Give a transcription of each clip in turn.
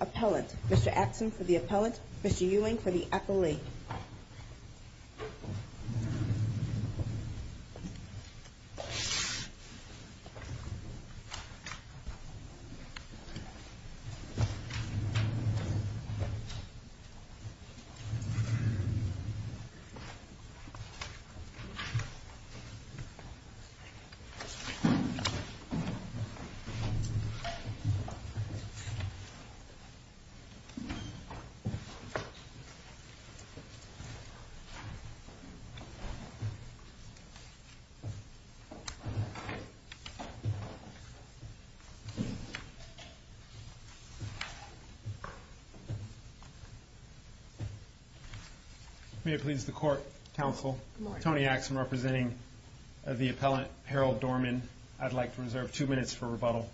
Appellant, Mr. Atkins for the Appellant, Mr. Ewing for the Accolade. May it please the Court, Counsel. Good morning. Tony Axum, representing the Appellant, Mr. Harold Dorman. I'd like to reserve two minutes for rebuttal.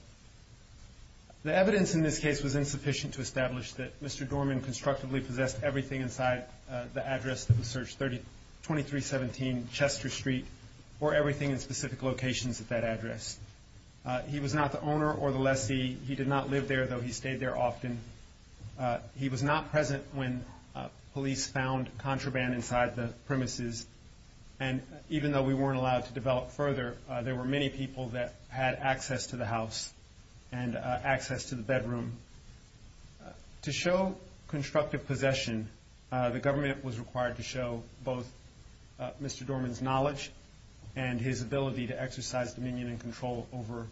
The evidence in this case was insufficient to establish that Mr. Dorman constructively possessed everything inside the address that was searched, 2317 Chester Street, or everything in specific locations at that address. He was not the owner or the lessee. He did not live there, though he stayed there often. He was not present when police found contraband inside the premises. And even though we weren't allowed to develop further, there were many people that had access to the house and access to the bedroom. To show constructive possession, the government was required to show both Mr. Dorman's knowledge and his ability to exercise dominion and control over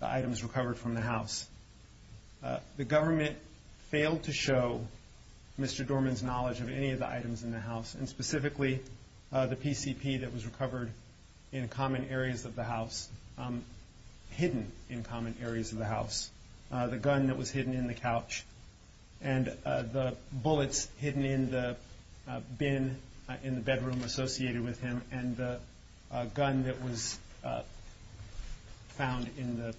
the items recovered from the house. The government failed to show Mr. Dorman's knowledge of any of the items in the house, and specifically the PCP that was recovered in common areas of the house, hidden in common areas of the house, the gun that was hidden in the couch, and the bullets hidden in the bin in the bedroom associated with him, and the gun that was found in the,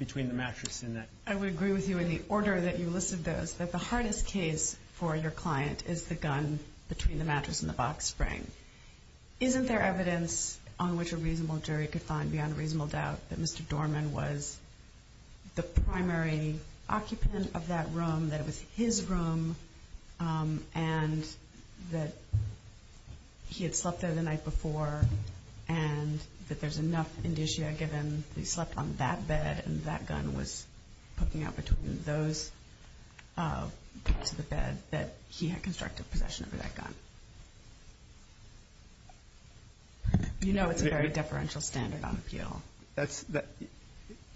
between the mattress and that. I would agree with you in the order that you put the gun between the mattress and the box spring. Isn't there evidence on which a reasonable jury could find beyond reasonable doubt that Mr. Dorman was the primary occupant of that room, that it was his room, and that he had slept there the night before, and that there's enough indicia given that he slept on that bed and that gun was poking out between those to the bed that he had constructive possession over that gun? You know it's a very deferential standard on appeal.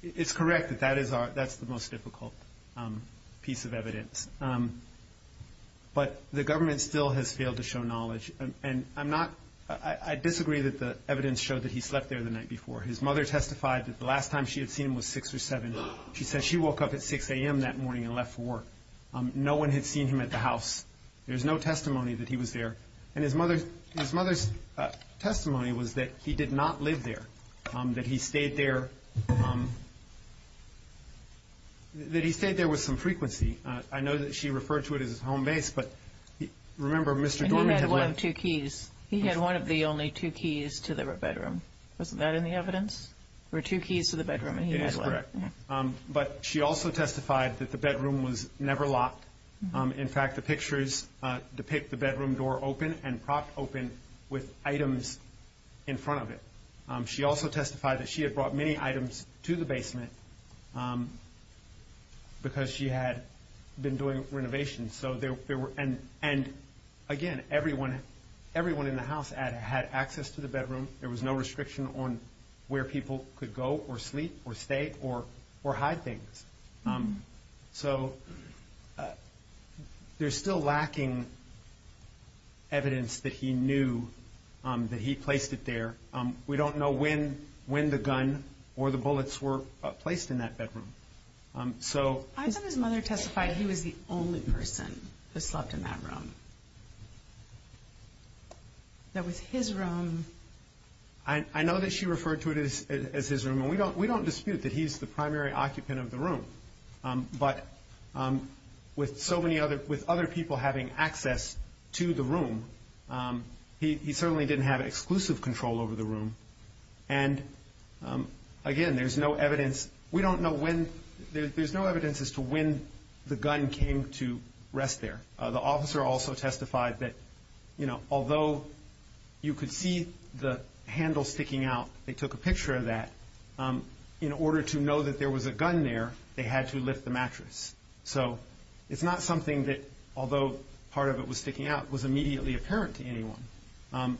It's correct that that's the most difficult piece of evidence, but the government still has failed to show knowledge, and I'm not, I disagree that the evidence showed that he slept there the night before. His mother testified that the last time she had seen him was six or seven. She said she woke up at 6 a.m. that morning and left for work. No one had seen him at the house. There's no testimony that he was there, and his mother's testimony was that he did not live there, that he stayed there, that he stayed there with some frequency. I know that she referred to it as his home base, but remember Mr. Dorman had one of the only two keys to the bedroom. Wasn't that in the evidence? There were two keys to the bedroom, but she also testified that the bedroom was never locked. In fact, the pictures depict the bedroom door open and propped open with items in front of it. She also testified that she had brought many items to the basement because she had been doing renovations, and again everyone in the house had access to the bedroom. There was no restriction on where people could go or sleep or stay or hide things. So there's still lacking evidence that he knew that he placed it there. We don't know when the gun or the bullets were placed in that bedroom. I said his mother testified he was the only person who slept in that room. That was his room? I know that she referred to it as his room, and we don't dispute that he's the primary occupant of the room, but with other people having access to the room, he certainly didn't have exclusive control over the room. Again, there's no evidence. We don't know when. There's no evidence that he was the only person who slept in that room. The officer also testified that although you could see the handle sticking out, they took a picture of that, in order to know that there was a gun there, they had to lift the mattress. So it's not something that, although part of it was sticking out, was immediately apparent to anyone.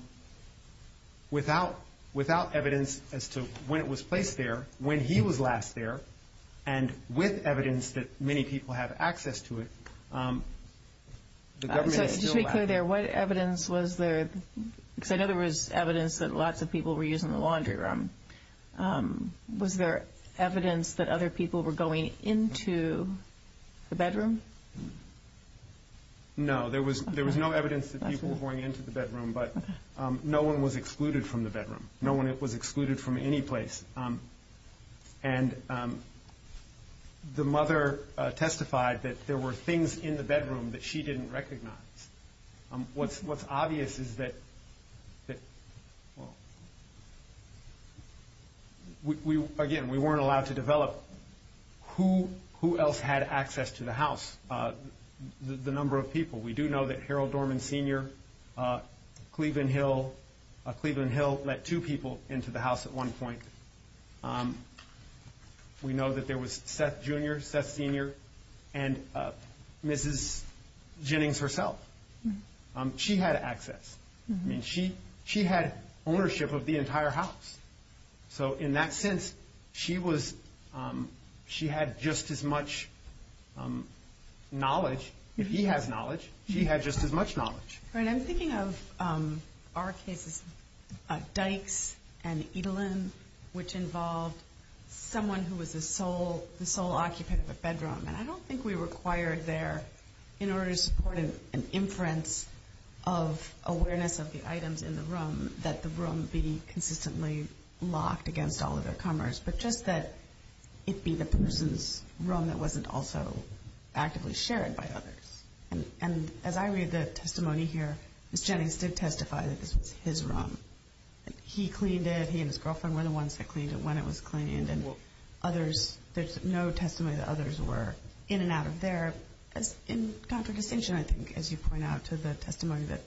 Without evidence as to when it was placed there, when he was last there, and with evidence that many people have access to it, the government is still lacking. Just to be clear there, what evidence was there? Because I know there was evidence that lots of people were using the laundry room. Was there evidence that other people were going into the bedroom? No. There was no evidence that people were going into the bedroom, but no one was excluded from the bedroom. No one was excluded from any place. The mother testified that there were things in the bedroom that she didn't recognize. What's obvious is that, again, we weren't allowed to develop who else had access to the house, the number of people. We do know that Harold Dorman Sr., Cleveland Hill, Cleveland Hill let two people into the house at one point. We know that there was Seth Jr., Seth Sr., and Mrs. Jennings herself. She had access. She had ownership of the entire house. In that sense, she had just as much knowledge. If he has knowledge, she had just as much knowledge. I'm thinking of our cases, Dykes and Edelen, which involved someone who was the sole occupant of a bedroom. I don't think we required there, in order to support an inference of awareness of the items in the room, that the room be consistently locked against all of their comers, but just that it be the person's room that wasn't also actively shared by others. As I read the testimony here, Mrs. Jennings did testify that this was his room. He cleaned it. He and his girlfriend were the ones that cleaned it when it was cleaned. There's no testimony that others were in and out of there. In contradistinction, I think, as you point out, to the testimony that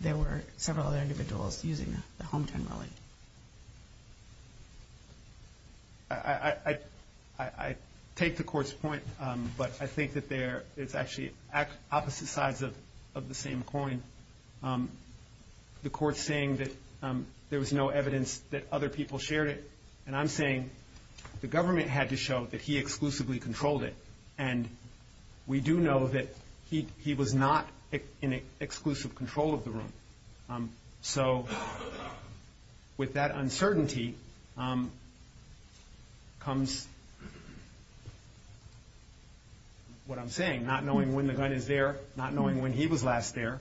there were several other individuals using the home generally. I take the Court's point, but I think that it's actually opposite sides of the same coin. The Court's saying that there was no evidence that other people shared it, and I'm saying the government had to show that he exclusively controlled it. We do know that he was not in exclusive control of the room. With that uncertainty comes what I'm saying, not knowing when the gun is there, not knowing when he was last there,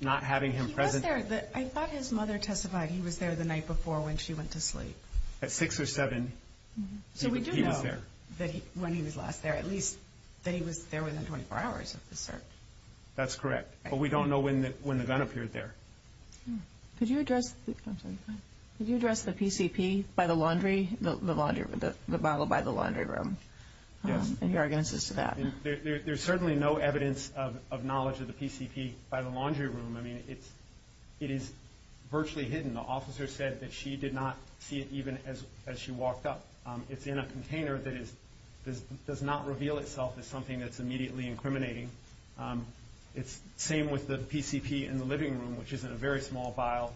not having him present. He was there. I thought his mother testified he was there the night before when she went to sleep. At 6 or 7, he was there. So we do know when he was last there, at least, that he was there within 24 hours of the search. That's correct, but we don't know when the gun appeared there. Could you address the bottle by the laundry room? Any arguments as to that? There's certainly no evidence of knowledge of the PCP by the laundry room. It is virtually hidden. The officer said that she did not see it even as she walked up. It's in a container that does not reveal itself as something that's immediately incriminating. It's the same with the PCP in the living room, which is in a very small vial,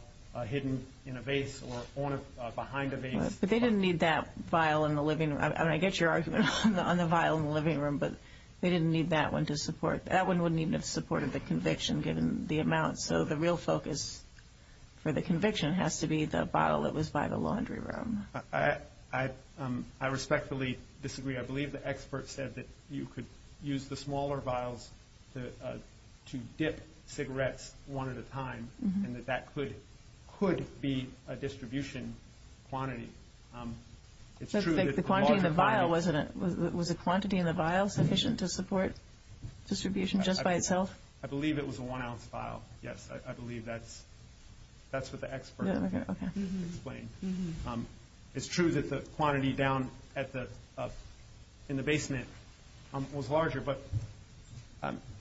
hidden in a vase or behind a vase. They didn't need that vial in the living room. I get your argument on the vial in the living room, but they didn't need that one to support it. That one wouldn't even have supported the conviction, given the amount. So the real focus for the conviction has to be the bottle that was by the laundry room. I respectfully disagree. I believe the expert said that you could use the smaller vials to dip cigarettes one at a time, and that that could be a distribution quantity. The quantity in the vial, was the quantity in the vial sufficient to support distribution just by itself? I believe it was a one-ounce vial. Yes, I believe that's what the expert explained. It's true that the quantity down in the basement was larger, but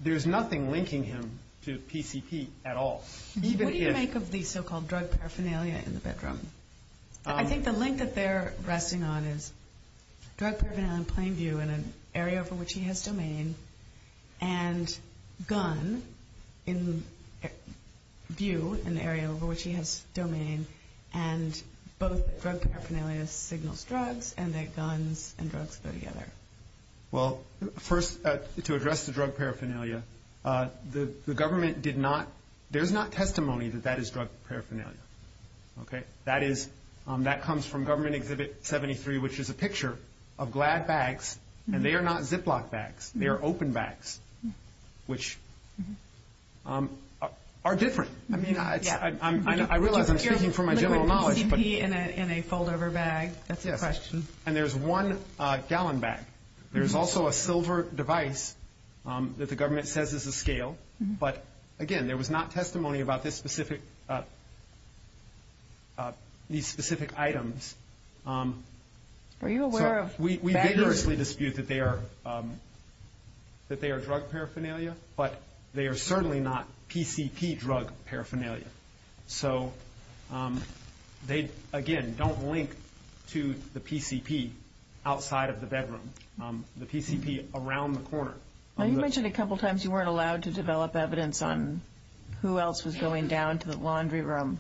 there's nothing linking him to PCP at all. What do you make of the so-called drug paraphernalia in the bedroom? I think the link that they're resting on is drug paraphernalia in plain view in an area for which he has domain, and gun in view in an area for which he has domain, and both drug paraphernalia signals drugs, and that guns and drugs go together. First, to address the drug paraphernalia, the government did not, there's not testimony that that is drug paraphernalia. That comes from Government Exhibit 73, which is a picture of GLAD bags, and they are not Ziploc bags. They are open bags, which are different. I realize I'm speaking from my general knowledge, but... You're liquid PCP in a fold-over bag. That's a question. And there's one gallon bag. There's also a silver device that the government says is a scale, but again, there was not testimony about this specific, these specific items. Are you aware of... We vigorously dispute that they are drug paraphernalia, but they are certainly not PCP drug paraphernalia. So they, again, don't link to the PCP outside of the bedroom. The PCP around the corner. Now, you mentioned a couple times you weren't allowed to develop evidence on who else was drug paraphernalia.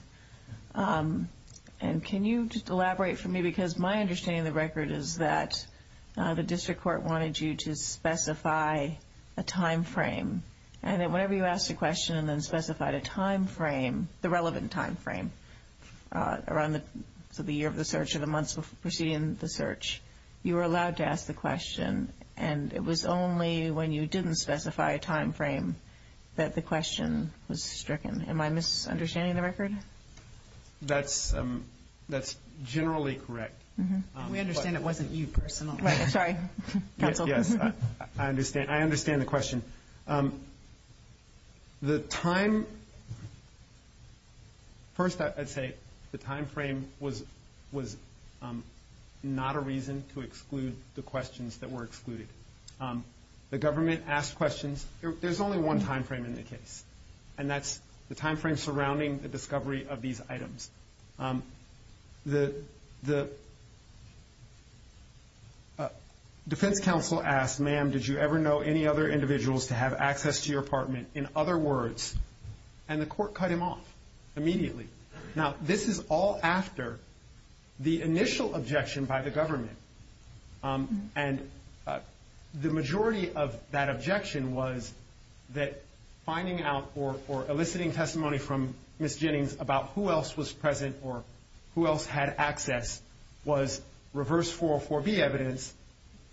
Can you elaborate for me, because my understanding of the record is that the district court wanted you to specify a time frame, and that whenever you asked a question and then specified a time frame, the relevant time frame, around the year of the search or the months preceding the search, you were allowed to ask the question, and it was only when you didn't specify a time frame that the question was stricken. Am I misunderstanding the record? That's generally correct. We understand it wasn't you personally. Right, sorry. Yes, yes. I understand. I understand the question. The time... First, I'd say the time frame was not a reason to exclude the questions that were excluded. The government asked questions. There's only one time frame in the case, and that's the time frame surrounding the discovery of these items. The defense counsel asked, ma'am, did you ever know any other individuals to have access to your apartment, in other words, and the court cut him off immediately. Now, this is all after the initial objection by the government, and the majority of that objection was that finding out or eliciting testimony from Ms. Jennings about who else was present or who else had access was reverse 404B evidence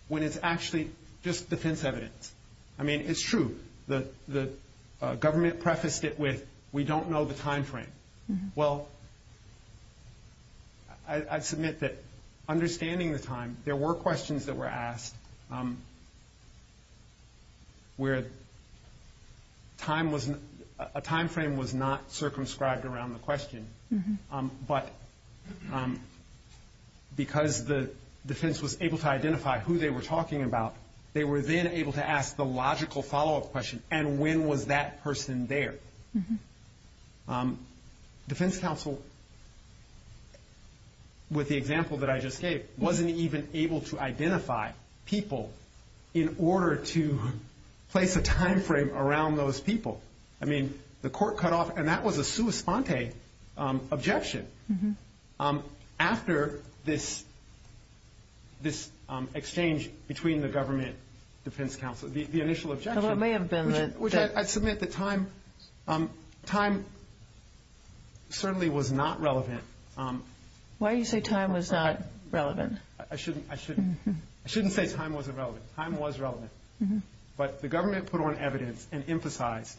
when it's actually just defense evidence. I mean, it's true. The government prefaced it with, we don't know the time frame. Well, I'd submit that understanding the time, there were questions that were asked where a time frame was not circumscribed around the question, but because the defense was able to identify who they were talking about, they were then able to ask the logical follow-up question, and when was that person there? Defense counsel, with the example that I just gave, wasn't even able to identify people in order to place a time frame around those people. I mean, the court cut off, and that was a sua sponte objection. After this exchange between the government and defense counsel, the initial objection, which I'd submit that time certainly was not relevant. Why do you say time was not relevant? I shouldn't say time wasn't relevant. Time was relevant, but the government put on evidence and emphasized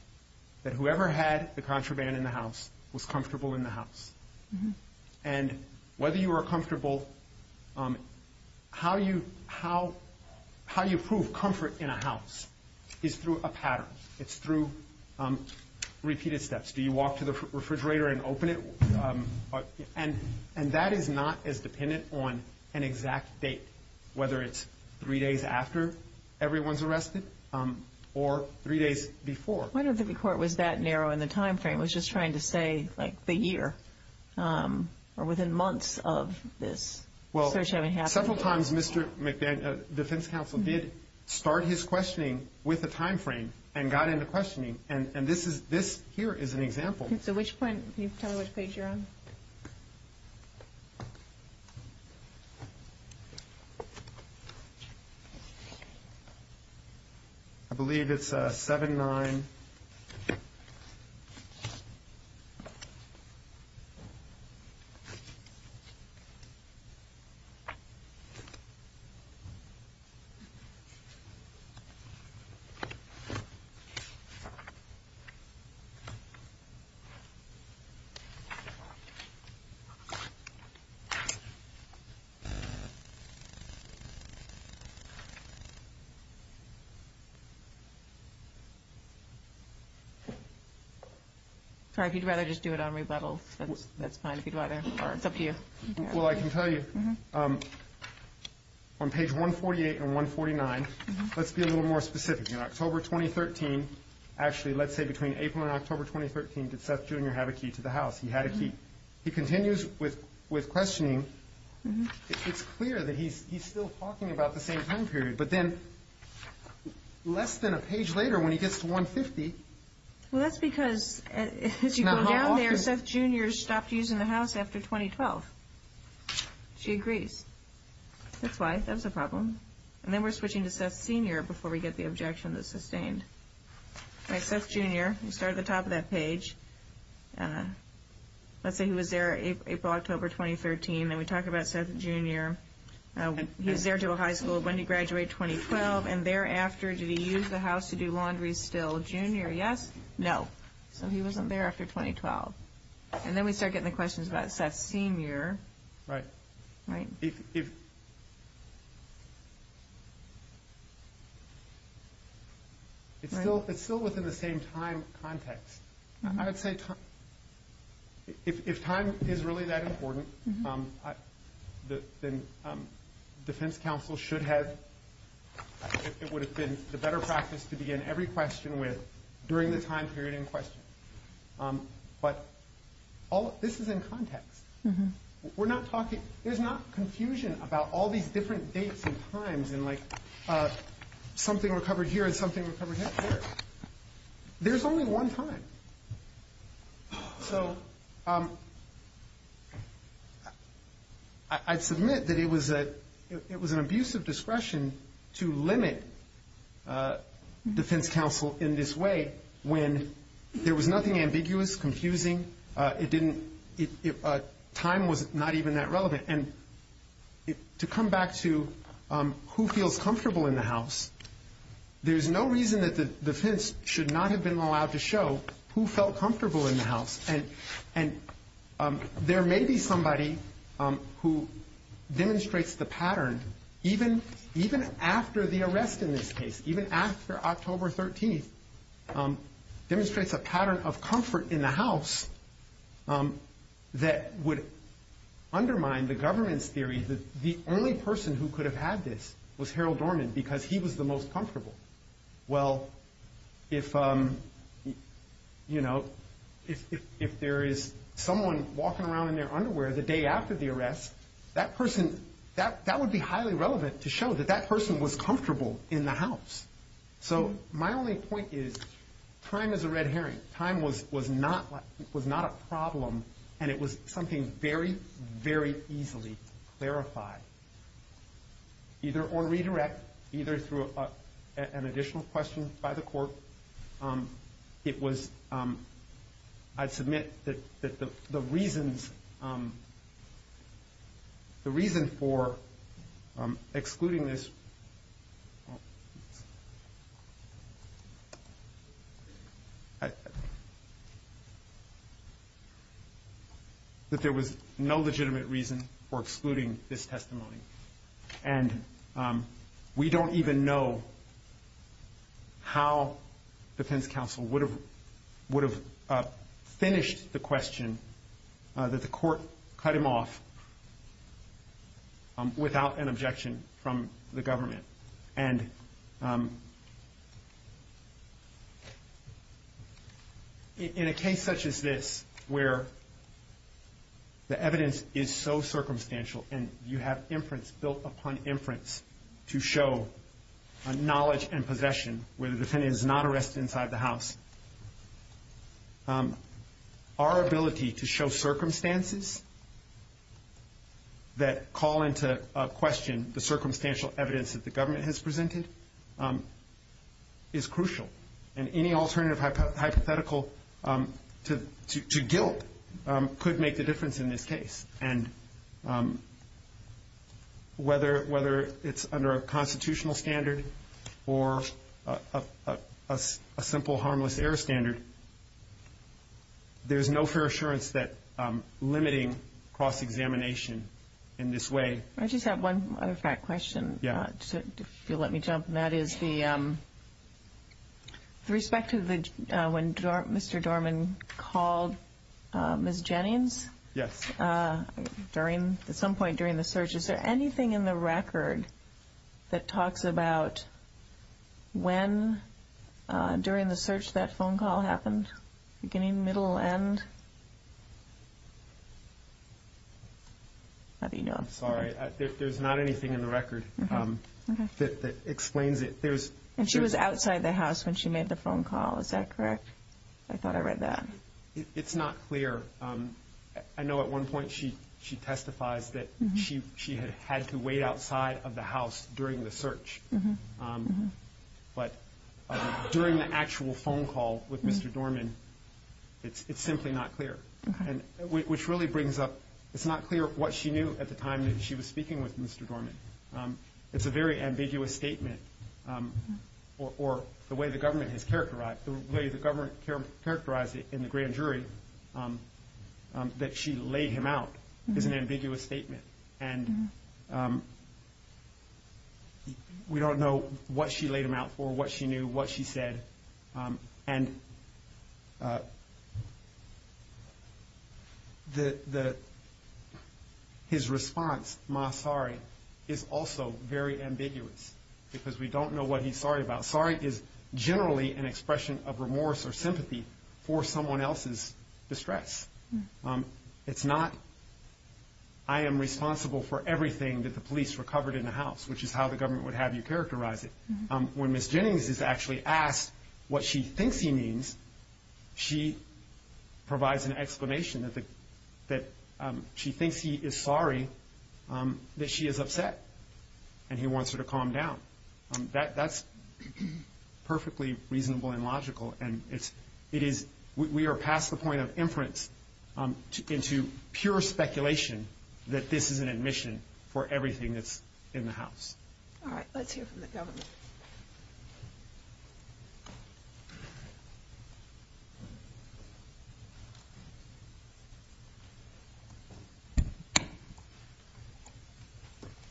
that whoever had the contraband in the house was comfortable in the house, and whether you were comfortable, how you prove comfort in a house is through a pattern. It's through repeated steps. Do you walk to the refrigerator and open it? And that is not as dependent on an exact date, whether it's three days after everyone's arrested or three days before. I don't think the court was that narrow in the time frame. It was just trying to say like the year or within months of this search having happened. Several times defense counsel did start his questioning with a time frame and got into questioning, and this here is an example. So which point? Can you tell me which page you're on? I believe it's 7-9. Sorry, if you'd rather just do it on rebuttal, that's fine. It's up to you. Well, I can tell you. On page 148 and 149, let's be a little more specific. In October 2013, actually let's say between April and October 2013, did Seth Jr. have a key to the It's clear that he's still talking about the same time period, but then less than a page later when he gets to 150. Well, that's because as you go down there, Seth Jr. stopped using the house after 2012. She agrees. That's why. That was a problem. And then we're switching to Seth Sr. before we get the objection that's sustained. All right, Seth Jr. We start at the top of that page. Let's say he was there April, October 2013, and we talk about Seth Jr. He was there until high school. When did he graduate? 2012. And thereafter, did he use the house to do laundry still? Junior, yes. No. So he wasn't there after 2012. And then we start getting the questions about Seth Sr. Right. It's still within the same time context. I would say if time is really that important, then defense counsel should have, it would have been the better practice to begin every question with during the time period in question. But this is in context. There's not confusion about all these different dates and times and something recovered here and something recovered there. There's only one time. So I'd submit that it was an abuse of discretion to limit defense counsel in this way when there was nothing ambiguous, confusing. Time was not even that relevant. And to come back to who feels comfortable in the house, there's no reason that the defense should not have been allowed to show who felt comfortable And there may be somebody who demonstrates the pattern even after the arrest in this case, even after October 13th, demonstrates a pattern of comfort in the house that would undermine the government's theory that the only person who could have had this was Harold Dorman because he was the most comfortable. Well, if there is someone walking around in their underwear the day after the arrest, that person, that would be highly relevant to show that that person was comfortable in the house. So my only point is time is a red herring. Time was not a problem and it was something very, very easily clarified either on redirect, either through an additional question by the court. It was, I'd submit that the reasons, the reason for excluding this, that there was no legitimate reason for excluding this testimony. And we don't even know how defense counsel would have, would have finished the question that the court cut him off without an objection from the government. And in a case such as this, where the evidence is so circumstantial and you have inference built upon inference to show a knowledge and possession where the defendant is not arrested inside the house. Our ability to show circumstances that call into question the circumstantial evidence that the government has presented is crucial. And any alternative hypothetical to guilt could make the difference in this case. And whether it's under a constitutional standard or a simple harmless error standard, there's no fair assurance that limiting cross-examination in this way. I just have one other fact question, if you'll let me jump, and that is the respect to when Mr. Dorman called Ms. Jennings. Yes. During, at some point during the search, is there anything in the record that talks about when during the search that phone call happened? Beginning, middle, end? How do you know? Sorry, there's not anything in the record that explains it. And she was outside the house when she made the phone call, is that correct? I thought I read that. It's not clear. I know at one point she testifies that she had had to wait outside of the house during the search. But during the actual phone call with Mr. Dorman, it's simply not clear. Which really brings up, it's not clear what she knew at the time that she was speaking with Mr. Dorman. It's a very ambiguous statement. Or the way the government has characterized, the way the government characterized it in the grand jury, that she laid him out is an ambiguous statement. And we don't know what she laid him out for, what she knew, what she said. And his response, my sorry, is also very ambiguous. Because we don't know what he's sorry about. Sorry is generally an expression of remorse or sympathy for someone else's distress. It's not, I am responsible for everything that the police recovered in the house, which is how the government would have you characterize it. When Ms. Jennings is actually asked what she thinks he means, she provides an explanation that she thinks he is sorry that she is upset. And he wants her to calm down. That's perfectly reasonable and logical. And we are past the point of inference into pure speculation that this is an admission for everything that's in the house. All right. Let's hear from the government.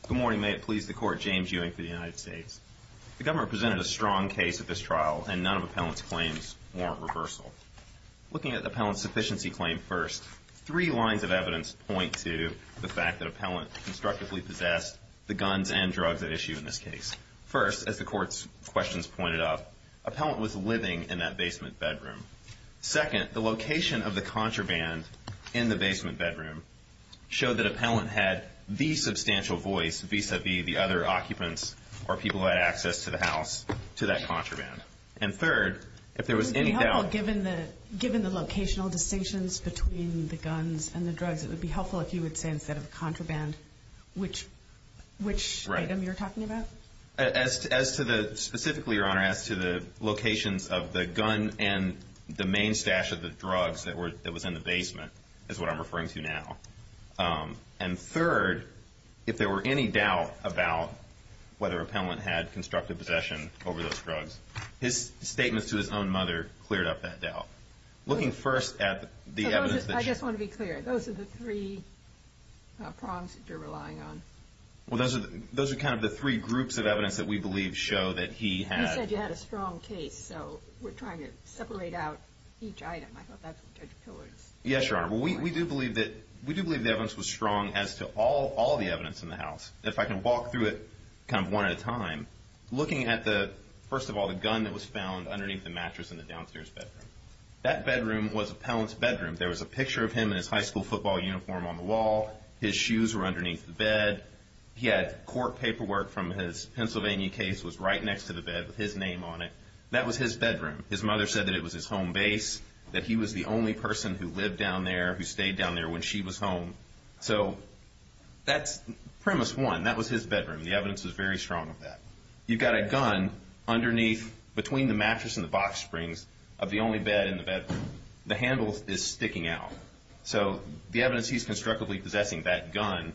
Good morning. May it please the Court. James Ewing for the United States. The government presented a strong case at this trial, and none of the appellant's claims warrant reversal. Looking at the appellant's sufficiency claim first, three lines of evidence point to the fact that First, as the Court's questions pointed out, appellant was living in that basement bedroom. Second, the location of the contraband in the basement bedroom showed that appellant had the substantial voice, vis-a-vis the other occupants or people who had access to the house, to that contraband. And third, if there was any doubt... Given the locational distinctions between the guns and the drugs, it would be helpful if you would say instead of contraband, which item you're talking about. Specifically, Your Honor, as to the locations of the gun and the main stash of the drugs that was in the basement, is what I'm referring to now. And third, if there were any doubt about whether appellant had constructive possession over those drugs, his statements to his own mother cleared up that doubt. Looking first at the evidence... I just want to be clear. Those are the three prongs that you're relying on. Well, those are kind of the three groups of evidence that we believe show that he had... You said you had a strong case, so we're trying to separate out each item. I thought that's what Judge Pillard's... Yes, Your Honor. Well, we do believe the evidence was strong as to all the evidence in the house. If I can walk through it kind of one at a time, looking at the, first of all, the gun that was found underneath the mattress in the downstairs bedroom. That bedroom was appellant's bedroom. There was a picture of him in his high school football uniform on the wall. His shoes were underneath the bed. He had court paperwork from his Pennsylvania case was right next to the bed with his name on it. That was his bedroom. His mother said that it was his home base, that he was the only person who lived down there, who stayed down there when she was home. So that's premise one. That was his bedroom. The evidence was very strong of that. You've got a gun underneath, between the mattress and the box springs, of the only bed in the bedroom. The handle is sticking out. So the evidence he's constructively possessing that gun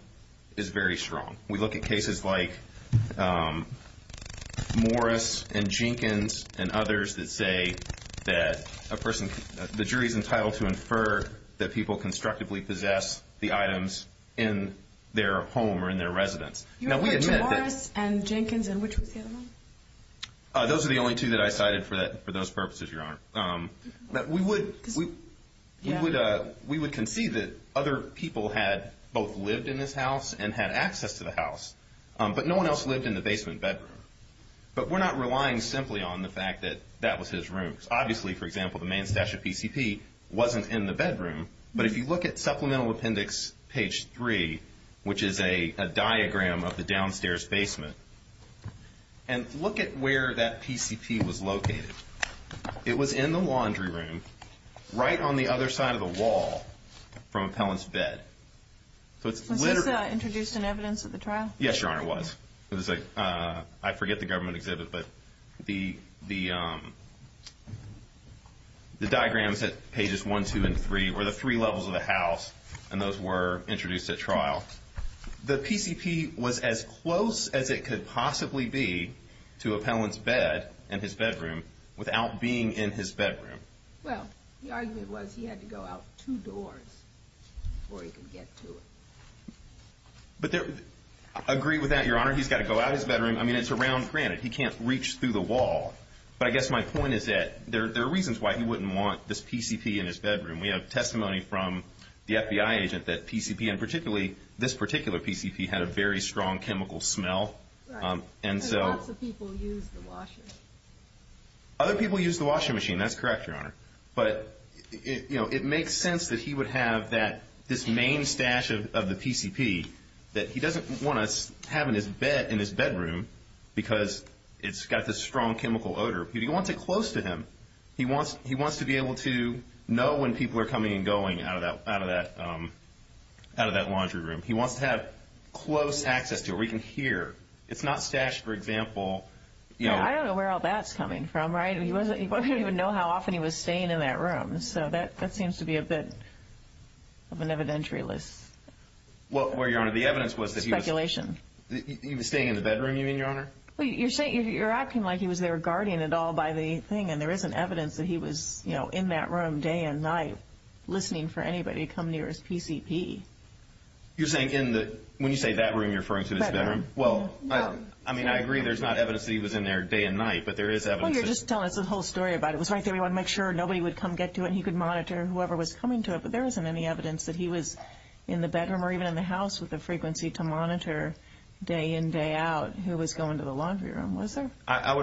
is very strong. We look at cases like Morris and Jenkins and others that say that a person... is able to infer that people constructively possess the items in their home or in their residence. Now, we had said that... You referred to Morris and Jenkins and which was the other one? Those are the only two that I cited for those purposes, Your Honor. We would concede that other people had both lived in this house and had access to the house, but no one else lived in the basement bedroom. But we're not relying simply on the fact that that was his room. Obviously, for example, the main stash of PCP wasn't in the bedroom. But if you look at Supplemental Appendix page 3, which is a diagram of the downstairs basement, and look at where that PCP was located, it was in the laundry room right on the other side of the wall from Appellant's bed. Was this introduced in evidence at the trial? Yes, Your Honor, it was. I forget the government exhibit, but the diagrams at pages 1, 2, and 3 were the three levels of the house, and those were introduced at trial. The PCP was as close as it could possibly be to Appellant's bed and his bedroom without being in his bedroom. Well, the argument was he had to go out two doors before he could get to it. I agree with that, Your Honor. He's got to go out his bedroom. I mean, it's a round granite. He can't reach through the wall. But I guess my point is that there are reasons why he wouldn't want this PCP in his bedroom. We have testimony from the FBI agent that PCP, and particularly this particular PCP, had a very strong chemical smell. Right, and lots of people used the washer. Other people used the washing machine. That's correct, Your Honor. But, you know, it makes sense that he would have this main stash of the PCP that he doesn't want to have in his bedroom because it's got this strong chemical odor. But he wants it close to him. He wants to be able to know when people are coming and going out of that laundry room. He wants to have close access to it where he can hear. It's not stashed, for example. I don't know where all that's coming from, right? He wouldn't even know how often he was staying in that room. So that seems to be a bit of an evidentiary list. Well, Your Honor, the evidence was that he was staying in the bedroom, you mean, Your Honor? You're acting like he was there guarding it all by the thing, and there isn't evidence that he was in that room day and night listening for anybody to come near his PCP. You're saying when you say that room, you're referring to his bedroom? Well, I mean, I agree there's not evidence that he was in there day and night, but there is evidence. Well, you're just telling us the whole story about it. It was right there. We wanted to make sure nobody would come get to it, and he could monitor whoever was coming to it. But there isn't any evidence that he was in the bedroom or even in the house with the frequency to monitor day in, day out who was going to the laundry room, was there? I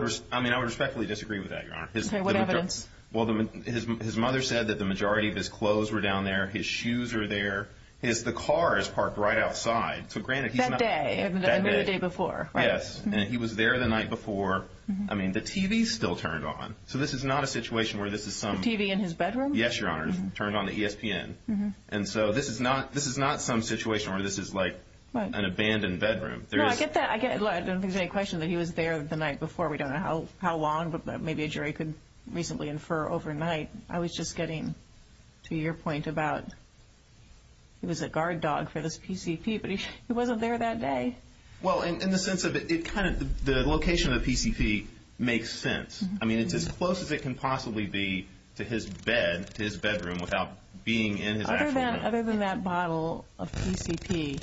mean, I would respectfully disagree with that, Your Honor. Okay, what evidence? Well, his mother said that the majority of his clothes were down there. His shoes are there. The car is parked right outside. That day? That day. Or the day before, right? Yes. And he was there the night before. I mean, the TV is still turned on. So this is not a situation where this is some— The TV in his bedroom? Yes, Your Honor. Turned on the ESPN. And so this is not some situation where this is like an abandoned bedroom. No, I get that. I don't think there's any question that he was there the night before. We don't know how long, but maybe a jury could reasonably infer overnight. I was just getting to your point about he was a guard dog for this PCP, but he wasn't there that day. Well, in the sense of it kind of—the location of the PCP makes sense. I mean, it's as close as it can possibly be to his bed, to his bedroom, without being in his actual room. Other than that bottle of PCP,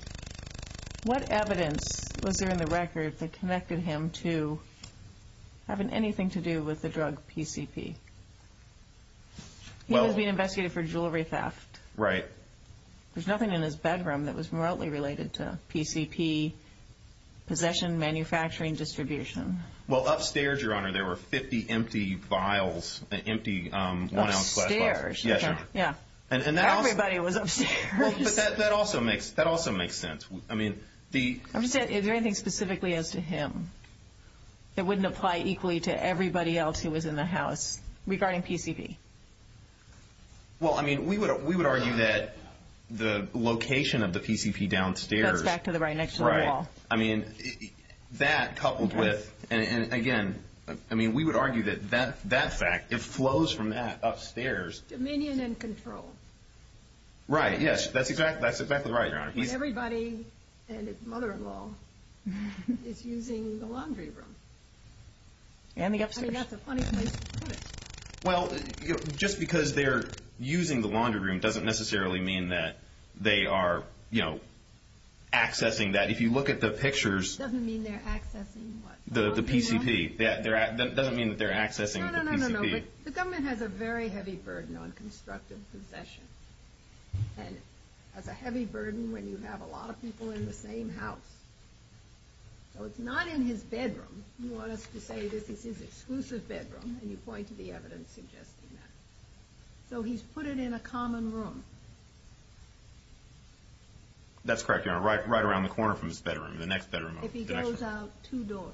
what evidence was there in the record that connected him to having anything to do with the drug PCP? He was being investigated for jewelry theft. Right. There's nothing in his bedroom that was remotely related to PCP, possession, manufacturing, distribution. Well, upstairs, Your Honor, there were 50 empty vials, empty one-ounce flash vials. Upstairs? Yes, Your Honor. Yeah. Everybody was upstairs. Well, but that also makes sense. I mean, the— Is there anything specifically as to him that wouldn't apply equally to everybody else who was in the house regarding PCP? Well, I mean, we would argue that the location of the PCP downstairs— That's back to the right next to the wall. Right. I mean, that coupled with—and again, I mean, we would argue that that fact, it flows from that upstairs. Dominion and control. Right, yes. That's exactly right, Your Honor. When everybody and his mother-in-law is using the laundry room. And the upstairs. I mean, that's a funny place to put it. Well, just because they're using the laundry room doesn't necessarily mean that they are, you know, accessing that. If you look at the pictures— It doesn't mean they're accessing what? The PCP. The laundry room? It doesn't mean that they're accessing the PCP. No, no, no, no, no. But the government has a very heavy burden on constructive possession. And it's a heavy burden when you have a lot of people in the same house. So it's not in his bedroom. You want us to say this is his exclusive bedroom, and you point to the evidence suggesting that. So he's put it in a common room. That's correct, Your Honor. Right around the corner from his bedroom, the next bedroom. If he goes out, two doors.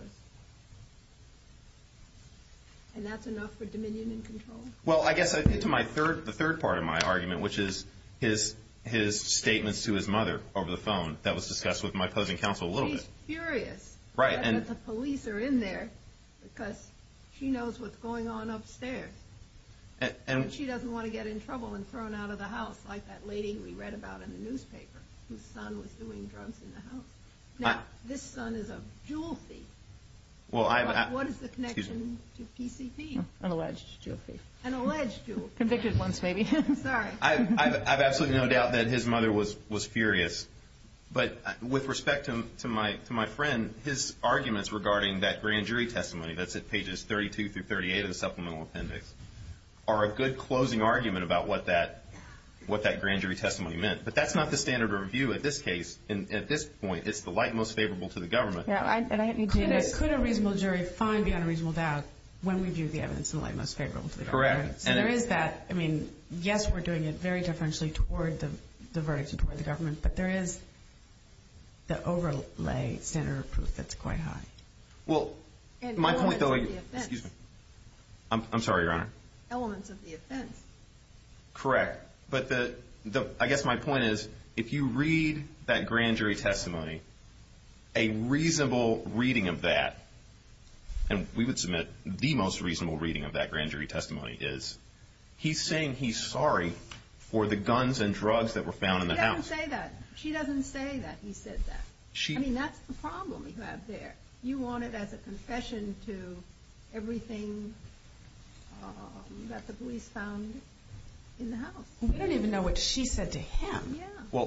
And that's enough for dominion and control? Well, I guess to my third—the third part of my argument, which is his statements to his mother over the phone, that was discussed with my opposing counsel a little bit. She's furious that the police are in there because she knows what's going on upstairs. And she doesn't want to get in trouble and thrown out of the house like that lady we read about in the newspaper whose son was doing drugs in the house. Now, this son is a jewel thief. What is the connection to PCP? An alleged jewel thief. An alleged jewel thief. Convicted once, maybe. Sorry. I have absolutely no doubt that his mother was furious. But with respect to my friend, his arguments regarding that grand jury testimony, that's at pages 32 through 38 of the supplemental appendix, are a good closing argument about what that grand jury testimony meant. But that's not the standard of review at this case. At this point, it's the light most favorable to the government. Could a reasonable jury find beyond a reasonable doubt when we view the evidence in the light most favorable to the government? Correct. So there is that. I mean, yes, we're doing it very differentially toward the verdict and toward the government, but there is the overlay standard of proof that's quite high. Well, my point, though, I'm sorry, Your Honor. Elements of the offense. Correct. But I guess my point is if you read that grand jury testimony, a reasonable reading of that, and we would submit the most reasonable reading of that grand jury testimony is he's saying he's sorry for the guns and drugs that were found in the house. She doesn't say that. She doesn't say that he said that. I mean, that's the problem you have there. You want it as a confession to everything that the police found in the house. We don't even know what she said to him. Yeah.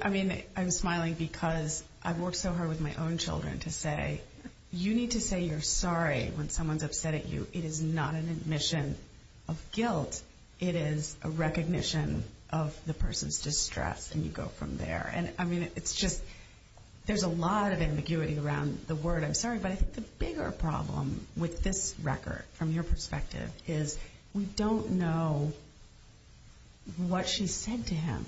I mean, I'm smiling because I've worked so hard with my own children to say you need to say you're sorry when someone's upset at you. It is not an admission of guilt. It is a recognition of the person's distress, and you go from there. And, I mean, it's just there's a lot of ambiguity around the word I'm sorry, but I think the bigger problem with this record from your perspective is we don't know what she said to him.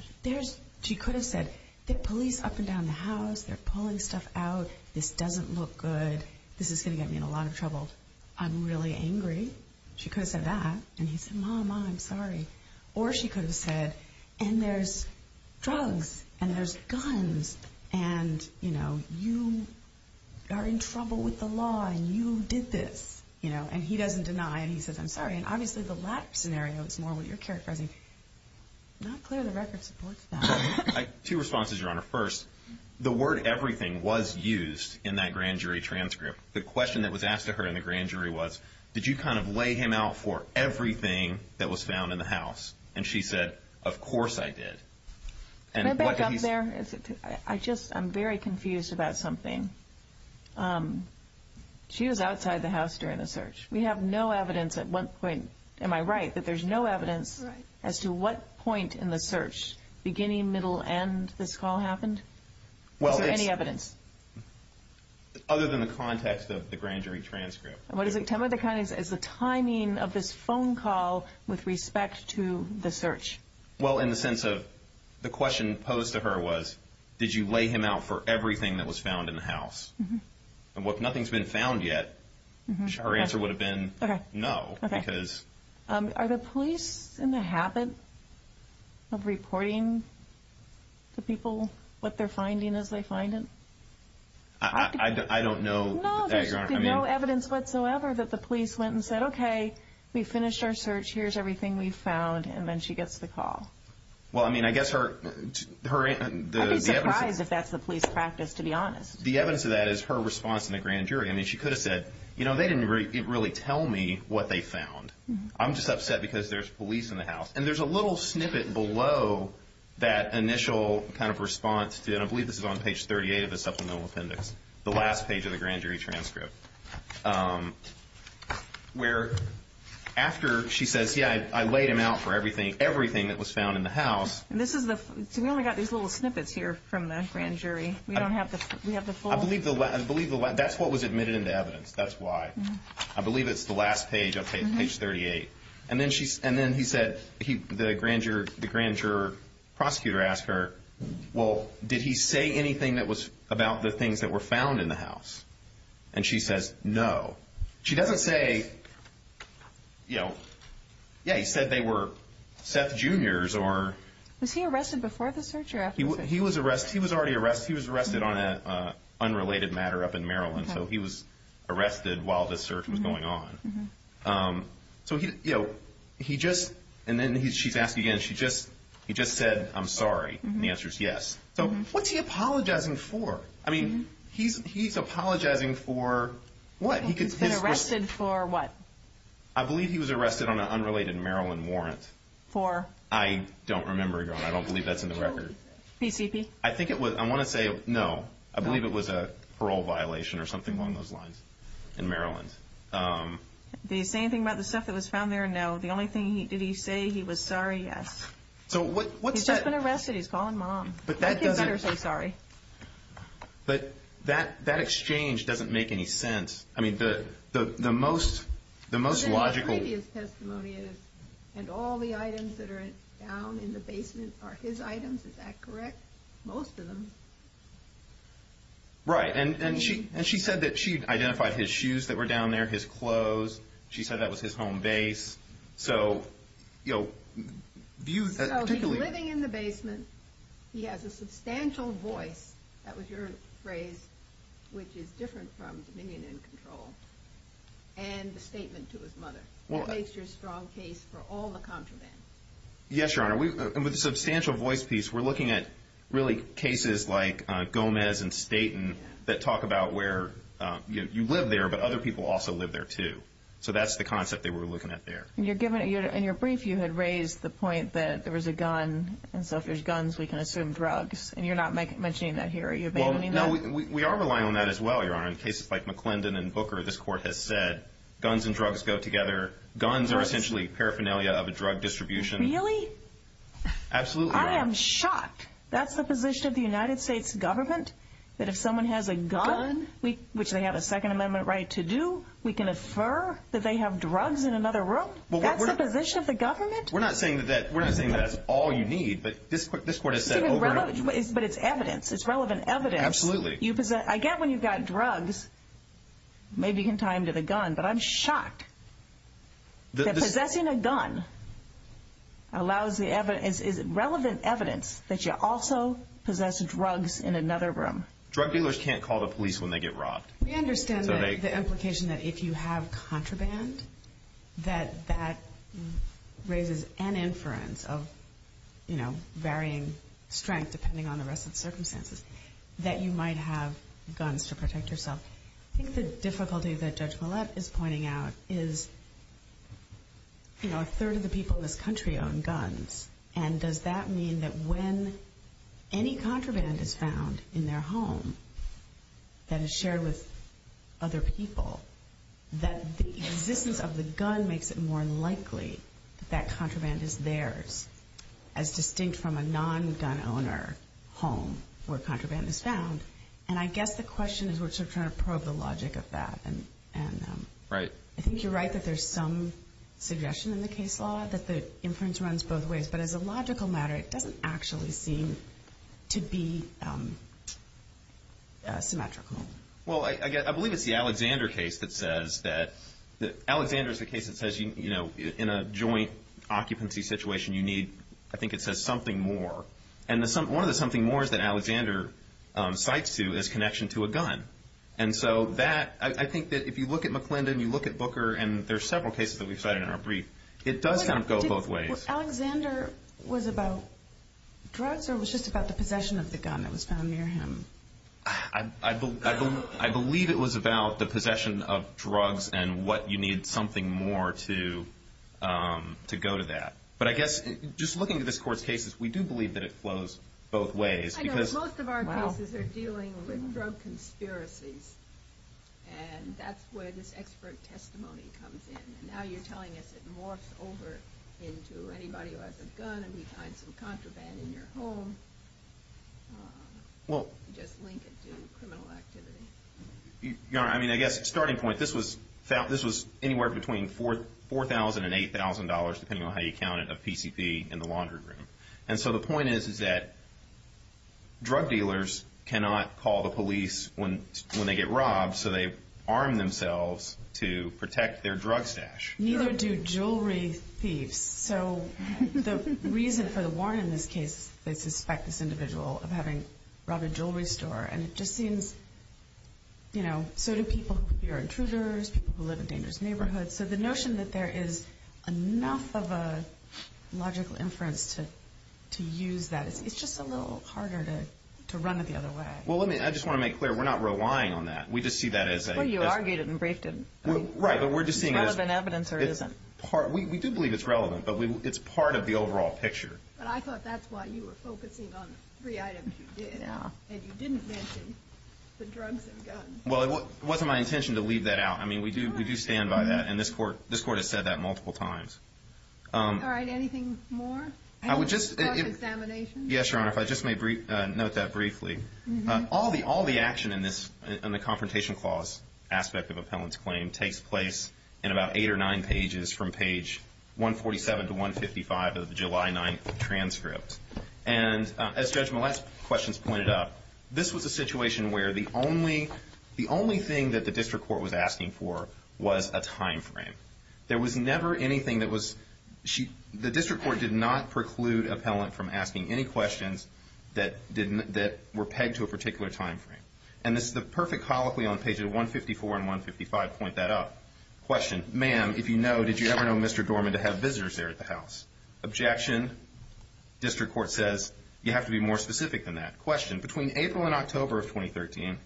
She could have said, the police are up and down the house. They're pulling stuff out. This doesn't look good. This is going to get me in a lot of trouble. I'm really angry. She could have said that, and he said, Mom, I'm sorry. Or she could have said, and there's drugs, and there's guns, and, you know, you are in trouble with the law, and you did this. And he doesn't deny, and he says, I'm sorry. And, obviously, the latter scenario is more what you're characterizing. I'm not clear the record supports that. Two responses, Your Honor. First, the word everything was used in that grand jury transcript. The question that was asked of her in the grand jury was, did you kind of lay him out for everything that was found in the house? And she said, of course I did. Can I back up there? I'm very confused about something. She was outside the house during the search. We have no evidence at one point. Am I right that there's no evidence as to what point in the search, beginning, middle, and this call happened? Is there any evidence? Other than the context of the grand jury transcript. What is it? Tell me the context. Is the timing of this phone call with respect to the search. Well, in the sense of the question posed to her was, did you lay him out for everything that was found in the house? If nothing's been found yet, her answer would have been no. Are the police in the habit of reporting to people what they're finding as they find it? I don't know. No, there's no evidence whatsoever that the police went and said, okay, we finished our search. Here's everything we found. And then she gets the call. Well, I mean, I guess her answer. I'd be surprised if that's the police practice, to be honest. The evidence of that is her response in the grand jury. I mean, she could have said, you know, they didn't really tell me what they found. I'm just upset because there's police in the house. And there's a little snippet below that initial kind of response, and I believe this is on page 38 of the supplemental appendix, the last page of the grand jury transcript, where after she says, yeah, I laid him out for everything, everything that was found in the house. We only got these little snippets here from the grand jury. We don't have the full. I believe that's what was admitted into evidence. That's why. I believe it's the last page, page 38. And then he said, the grand juror prosecutor asked her, well, did he say anything about the things that were found in the house? And she says, no. She doesn't say, you know, yeah, he said they were Seth Jr.'s. Was he arrested before the search or after the search? He was arrested. In fact, he was already arrested. He was arrested on an unrelated matter up in Maryland, so he was arrested while the search was going on. So, you know, he just, and then she's asking again, he just said, I'm sorry, and the answer is yes. So what's he apologizing for? I mean, he's apologizing for what? He's been arrested for what? I believe he was arrested on an unrelated Maryland warrant. For? I don't remember, Your Honor. I don't believe that's in the record. PCP? I think it was. I want to say no. I believe it was a parole violation or something along those lines in Maryland. Did he say anything about the stuff that was found there? No. The only thing, did he say he was sorry? Yes. So what's that? He's just been arrested. He's calling mom. I think he better say sorry. But that exchange doesn't make any sense. I mean, the most logical. And all the items that are down in the basement are his items. Is that correct? Most of them. Right. And she said that she identified his shoes that were down there, his clothes. She said that was his home base. So, you know, views that particularly. So he's living in the basement. He has a substantial voice. That was your phrase, which is different from dominion and control. And the statement to his mother. It makes your strong case for all the contraband. Yes, Your Honor. With the substantial voice piece, we're looking at really cases like Gomez and Staten that talk about where you live there, but other people also live there, too. So that's the concept that we're looking at there. In your brief, you had raised the point that there was a gun, and so if there's guns, we can assume drugs. And you're not mentioning that here. Are you abandoning that? We are relying on that as well, Your Honor. In cases like McClendon and Booker, this court has said guns and drugs go together. Guns are essentially paraphernalia of a drug distribution. Really? Absolutely. I am shocked. That's the position of the United States government? That if someone has a gun, which they have a Second Amendment right to do, we can infer that they have drugs in another room? That's the position of the government? We're not saying that that's all you need, but this court has said over and over. But it's evidence. It's relevant evidence. Absolutely. I get when you've got drugs, maybe you can tie them to the gun, but I'm shocked. Possessing a gun is relevant evidence that you also possess drugs in another room. Drug dealers can't call the police when they get robbed. We understand the implication that if you have contraband, that that raises an inference of varying strength depending on the rest of the circumstances that you might have guns to protect yourself. I think the difficulty that Judge Millett is pointing out is, you know, a third of the people in this country own guns, and does that mean that when any contraband is found in their home that is shared with other people, that the existence of the gun makes it more likely that that contraband is theirs, as distinct from a non-gun owner home where contraband is found? And I guess the question is we're sort of trying to probe the logic of that. Right. I think you're right that there's some suggestion in the case law that the inference runs both ways. But as a logical matter, it doesn't actually seem to be symmetrical. Well, I believe it's the Alexander case that says that, Alexander is the case that says, you know, in a joint occupancy situation you need, I think it says, something more. And one of the something mores that Alexander cites to is connection to a gun. And so that, I think that if you look at McClendon, you look at Booker, and there are several cases that we've cited in our brief, it does kind of go both ways. Alexander was about drugs or was just about the possession of the gun that was found near him? I believe it was about the possession of drugs and what you need something more to go to that. But I guess just looking at this Court's cases, we do believe that it flows both ways. I know. Most of our cases are dealing with drug conspiracies. And that's where this expert testimony comes in. And now you're telling us it morphs over into anybody who has a gun and we find some contraband in your home. You just link it to criminal activity. I mean, I guess starting point, this was anywhere between $4,000 and $8,000, depending on how you count it, of PCP in the laundry room. And so the point is that drug dealers cannot call the police when they get robbed, so they arm themselves to protect their drug stash. Neither do jewelry thieves. So the reason for the warrant in this case, they suspect this individual of having robbed a jewelry store. And it just seems, you know, so do people who are intruders, people who live in dangerous neighborhoods. So the notion that there is enough of a logical inference to use that, it's just a little harder to run it the other way. Well, let me, I just want to make clear, we're not relying on that. We just see that as a… Well, you argued it and briefed it. Right, but we're just seeing it as… Is it relevant evidence or isn't? We do believe it's relevant, but it's part of the overall picture. But I thought that's why you were focusing on the three items you did. Yeah. And you didn't mention the drugs and guns. Well, it wasn't my intention to leave that out. I mean, we do stand by that, and this Court has said that multiple times. All right, anything more? I would just… On this cross-examination? Yes, Your Honor, if I just may note that briefly. Mm-hmm. All the action in the Confrontation Clause aspect of Appellant's claim takes place in about eight or nine pages from page 147 to 155 of the July 9 transcript. And as Judge Mollett's questions pointed out, this was a situation where the only thing that the district court was asking for was a time frame. There was never anything that was… The district court did not preclude Appellant from asking any questions that were pegged to a particular time frame. And this is the perfect colloquy on pages 154 and 155 point that up. Question, ma'am, if you know, did you ever know Mr. Dorman to have visitors there at the house? Objection. District court says, you have to be more specific than that. Question, between April and October of 2013,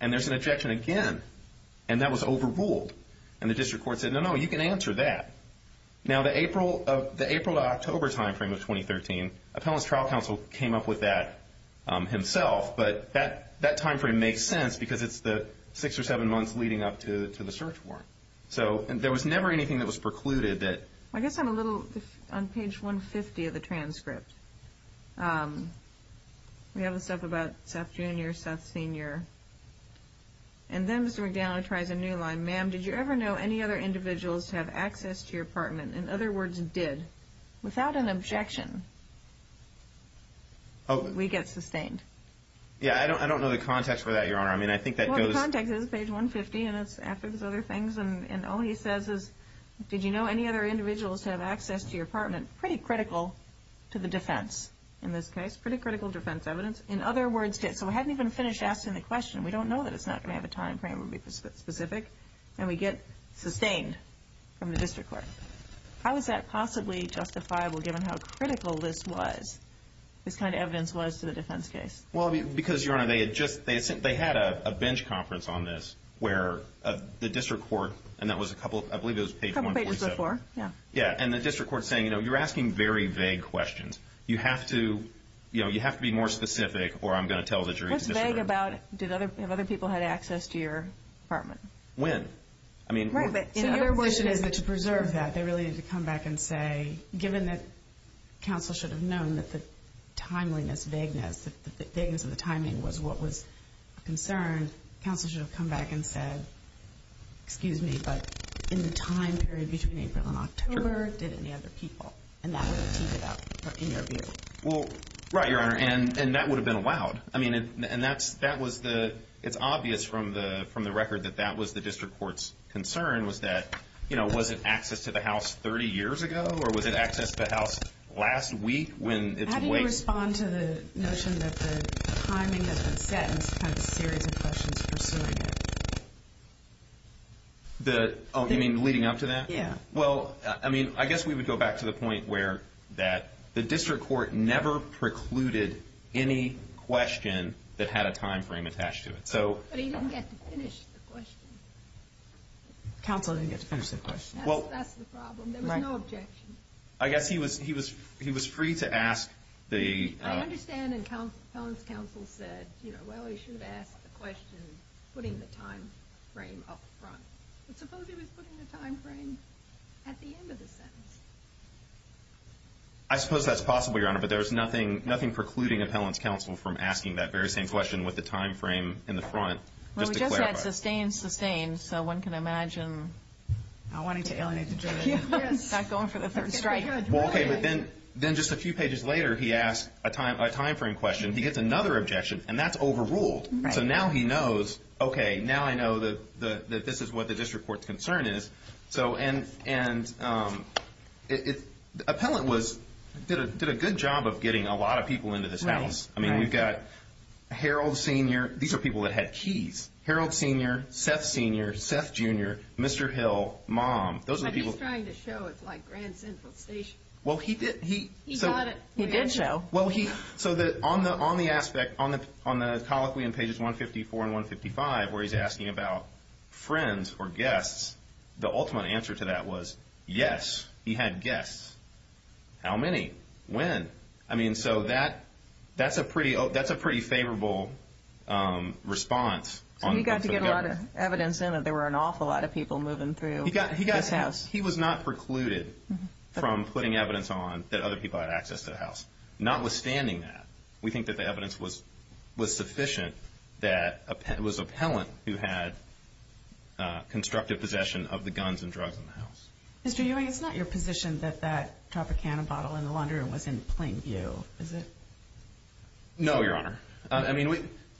and there's an objection again, and that was overruled. And the district court said, no, no, you can answer that. Now, the April to October time frame of 2013, Appellant's trial counsel came up with that himself, but that time frame makes sense because it's the six or seven months leading up to the search warrant. So there was never anything that was precluded that… I guess I'm a little on page 150 of the transcript. We have the stuff about Seth Jr., Seth Sr. And then Mr. McDaniel tries a new line. Ma'am, did you ever know any other individuals to have access to your apartment? In other words, did. Without an objection, we get sustained. Yeah, I don't know the context for that, Your Honor. I mean, I think that goes… Well, the context is page 150, and it's after those other things, and all he says is, did you know any other individuals to have access to your apartment? Pretty critical to the defense in this case, pretty critical defense evidence. In other words, did. So we haven't even finished asking the question. We don't know that it's not going to have a time frame that would be specific. And we get sustained from the district court. How is that possibly justifiable, given how critical this was, this kind of evidence was to the defense case? Well, because, Your Honor, they had a bench conference on this where the district court, and that was a couple, I believe it was page 147. A couple pages before, yeah. Yeah, and the district court's saying, you know, you're asking very vague questions. You have to be more specific, or I'm going to tell the jury to disagree. Have other people had access to your apartment? When? So your wish is to preserve that. They really need to come back and say, given that counsel should have known that the timeliness, vagueness, the vagueness of the timing was what was a concern, counsel should have come back and said, excuse me, but in the time period between April and October, did any other people? And that would have teed it up, in your view. Well, right, Your Honor, and that would have been allowed. I mean, and that was the – it's obvious from the record that that was the district court's concern was that, you know, was it access to the house 30 years ago, or was it access to the house last week when it's waiting? How do you respond to the notion that the timing has been set and it's kind of a series of questions pursuing it? Oh, you mean leading up to that? Yeah. Well, I mean, I guess we would go back to the point where that the district court never precluded any question that had a time frame attached to it. But he didn't get to finish the question. Counsel didn't get to finish the question. That's the problem. There was no objection. I guess he was free to ask the – I understand and Pelham's counsel said, you know, well, he should have asked the question putting the time frame up front. But suppose he was putting the time frame at the end of the sentence? I suppose that's possible, Your Honor, but there was nothing precluding a Pelham's counsel from asking that very same question with the time frame in the front. Just to clarify. Well, we just had sustained, sustained, so one can imagine. Not wanting to alienate the jury. Yes. Not going for the third strike. Well, okay, but then just a few pages later he asked a time frame question. He gets another objection, and that's overruled. So now he knows, okay, now I know that this is what the district court's concern is. And Appellant did a good job of getting a lot of people into this house. I mean, we've got Harold Sr. – these are people that had keys. Harold Sr., Seth Sr., Seth Jr., Mr. Hill, Mom. But he's trying to show it's like Grand Central Station. Well, he did. He got it. He did show. So on the aspect, on the colloquy in pages 154 and 155 where he's asking about friends or guests, the ultimate answer to that was yes, he had guests. How many? When? I mean, so that's a pretty favorable response. So he got to get a lot of evidence in that there were an awful lot of people moving through this house. He was not precluded from putting evidence on that other people had access to the house. Notwithstanding that, we think that the evidence was sufficient that it was Appellant who had constructive possession of the guns and drugs in the house. Mr. Ewing, it's not your position that that Tropicana bottle in the laundry room was in plain view, is it? No, Your Honor.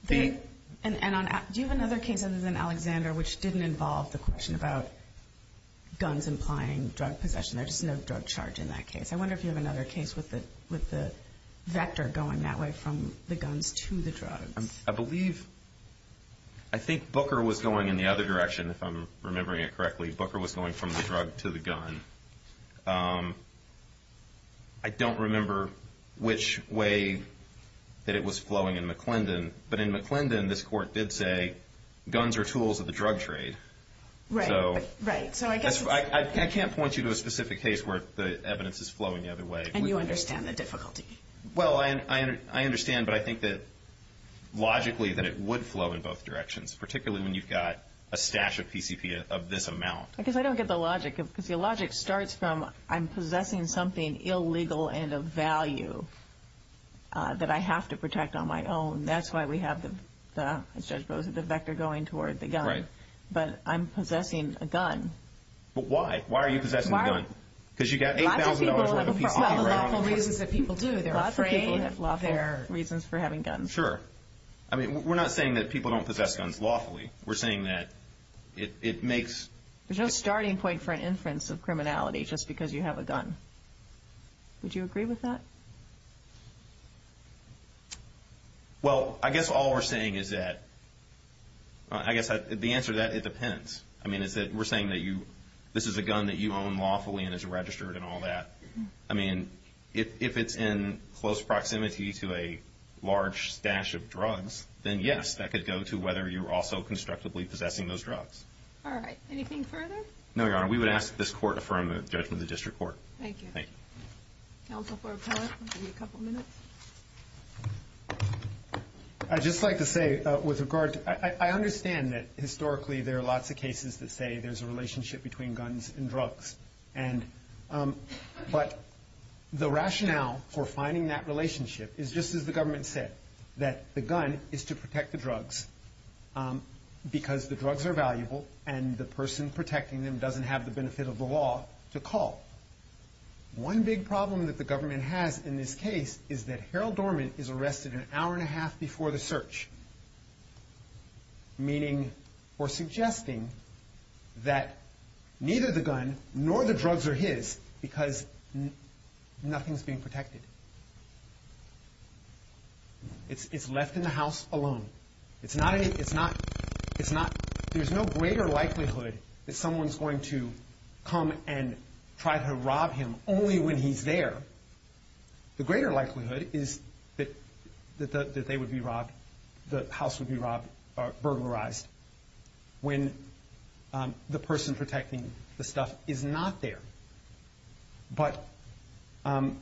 Do you have another case other than Alexander which didn't involve the question about guns implying drug possession? There's just no drug charge in that case. I wonder if you have another case with the vector going that way from the guns to the drugs. I believe, I think Booker was going in the other direction if I'm remembering it correctly. Booker was going from the drug to the gun. I don't remember which way that it was flowing in McClendon, but in McClendon this court did say guns are tools of the drug trade. Right, right. I can't point you to a specific case where the evidence is flowing the other way. And you understand the difficulty? Well, I understand, but I think that logically that it would flow in both directions, particularly when you've got a stash of PCP of this amount. Because I don't get the logic. The logic starts from I'm possessing something illegal and of value that I have to protect on my own. That's why we have the, as Judge Bowes said, the vector going toward the gun. Right. But I'm possessing a gun. But why? Why are you possessing a gun? Because you've got $8,000 worth of PCP right now. Lots of people have lawful reasons that people do. Lots of people have lawful reasons for having guns. Sure. I mean, we're not saying that people don't possess guns lawfully. We're saying that it makes... There's no starting point for an inference of criminality just because you have a gun. Would you agree with that? Well, I guess all we're saying is that... I guess the answer to that, it depends. I mean, we're saying that this is a gun that you own lawfully and is registered and all that. I mean, if it's in close proximity to a large stash of drugs, then yes, that could go to whether you were also constructively possessing those drugs. All right. Anything further? No, Your Honor. We would ask that this Court affirm the judgment of the District Court. Thank you. Thank you. Counsel for Appellate, we'll give you a couple minutes. I'd just like to say with regard to... I understand that historically there are lots of cases that say there's a relationship between guns and drugs. But the rationale for finding that relationship is just as the government said, that the gun is to protect the drugs because the drugs are valuable and the person protecting them doesn't have the benefit of the law to call. One big problem that the government has in this case is that Harold Dorman is arrested an hour and a half before the search, meaning or suggesting that neither the gun nor the drugs are his because nothing's being protected. It's left in the house alone. There's no greater likelihood that someone's going to come and try to rob him only when he's there. The greater likelihood is that the house would be burglarized when the person protecting the stuff is not there. But the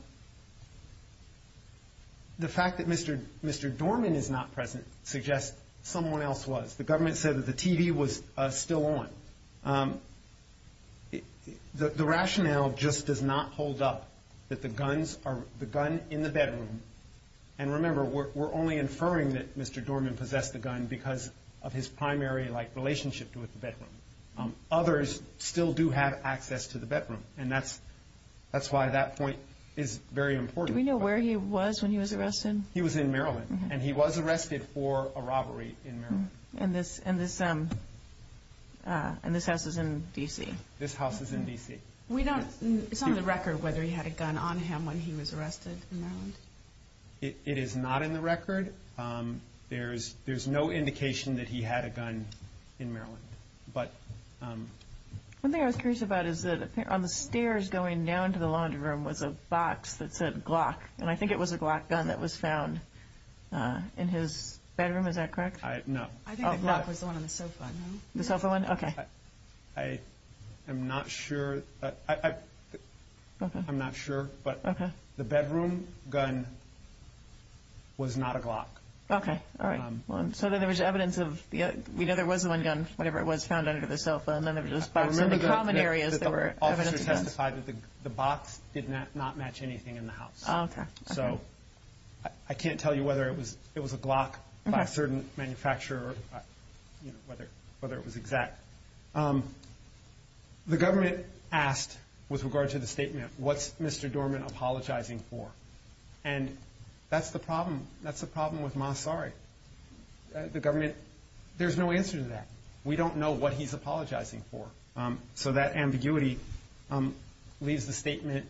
fact that Mr. Dorman is not present suggests someone else was. The government said that the TV was still on. The rationale just does not hold up that the gun in the bedroom... And remember, we're only inferring that Mr. Dorman possessed the gun because of his primary relationship with the bedroom. Others still do have access to the bedroom, and that's why that point is very important. Do we know where he was when he was arrested? He was in Maryland, and he was arrested for a robbery in Maryland. And this house is in D.C.? This house is in D.C. It's not on the record whether he had a gun on him when he was arrested in Maryland. It is not in the record. There's no indication that he had a gun in Maryland. One thing I was curious about is that on the stairs going down to the laundry room was a box that said Glock, and I think it was a Glock gun that was found in his bedroom. Is that correct? No. I think the Glock was the one on the sofa. The sofa one? Okay. I am not sure. I'm not sure, but the bedroom gun was not a Glock. Okay, all right. So then there was evidence of the other one. We know there was one gun, whatever it was, found under the sofa, and then there was a box. In the common areas, there were evidence of that. I remember that the officer testified that the box did not match anything in the house. Okay. So I can't tell you whether it was a Glock by a certain manufacturer or whether it was exact. The government asked with regard to the statement, what's Mr. Dorman apologizing for? And that's the problem. That's the problem with Moss Sari. The government, there's no answer to that. We don't know what he's apologizing for. So that ambiguity leaves the statement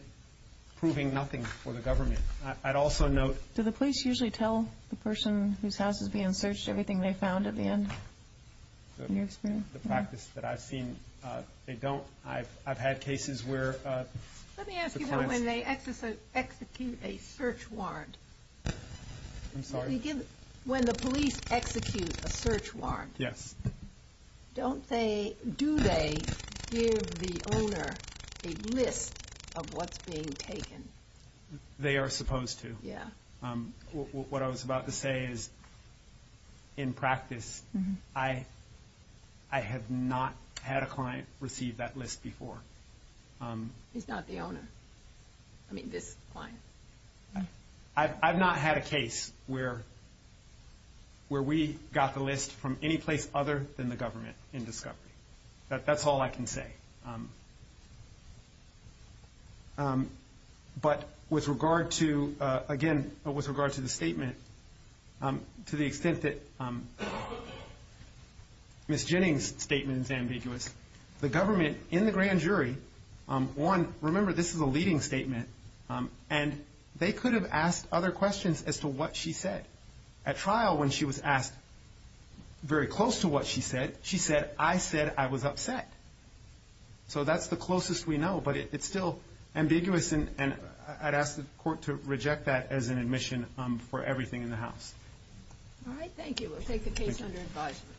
proving nothing for the government. I'd also note- Do the police usually tell the person whose house is being searched everything they found at the end? In your experience? The practice that I've seen, they don't. I've had cases where- Let me ask you that when they execute a search warrant. I'm sorry? When the police execute a search warrant- Yes. Do they give the owner a list of what's being taken? They are supposed to. Yeah. What I was about to say is, in practice, I have not had a client receive that list before. He's not the owner? I mean, this client? I've not had a case where we got the list from any place other than the government in discovery. That's all I can say. But with regard to- Again, with regard to the statement, to the extent that Ms. Jennings' statement is ambiguous, the government in the grand jury, one, remember this is a leading statement, and they could have asked other questions as to what she said. At trial, when she was asked very close to what she said, she said, I said I was upset. So that's the closest we know, but it's still ambiguous, and I'd ask the court to reject that as an admission for everything in the house. All right. Thank you. We'll take the case under advisement.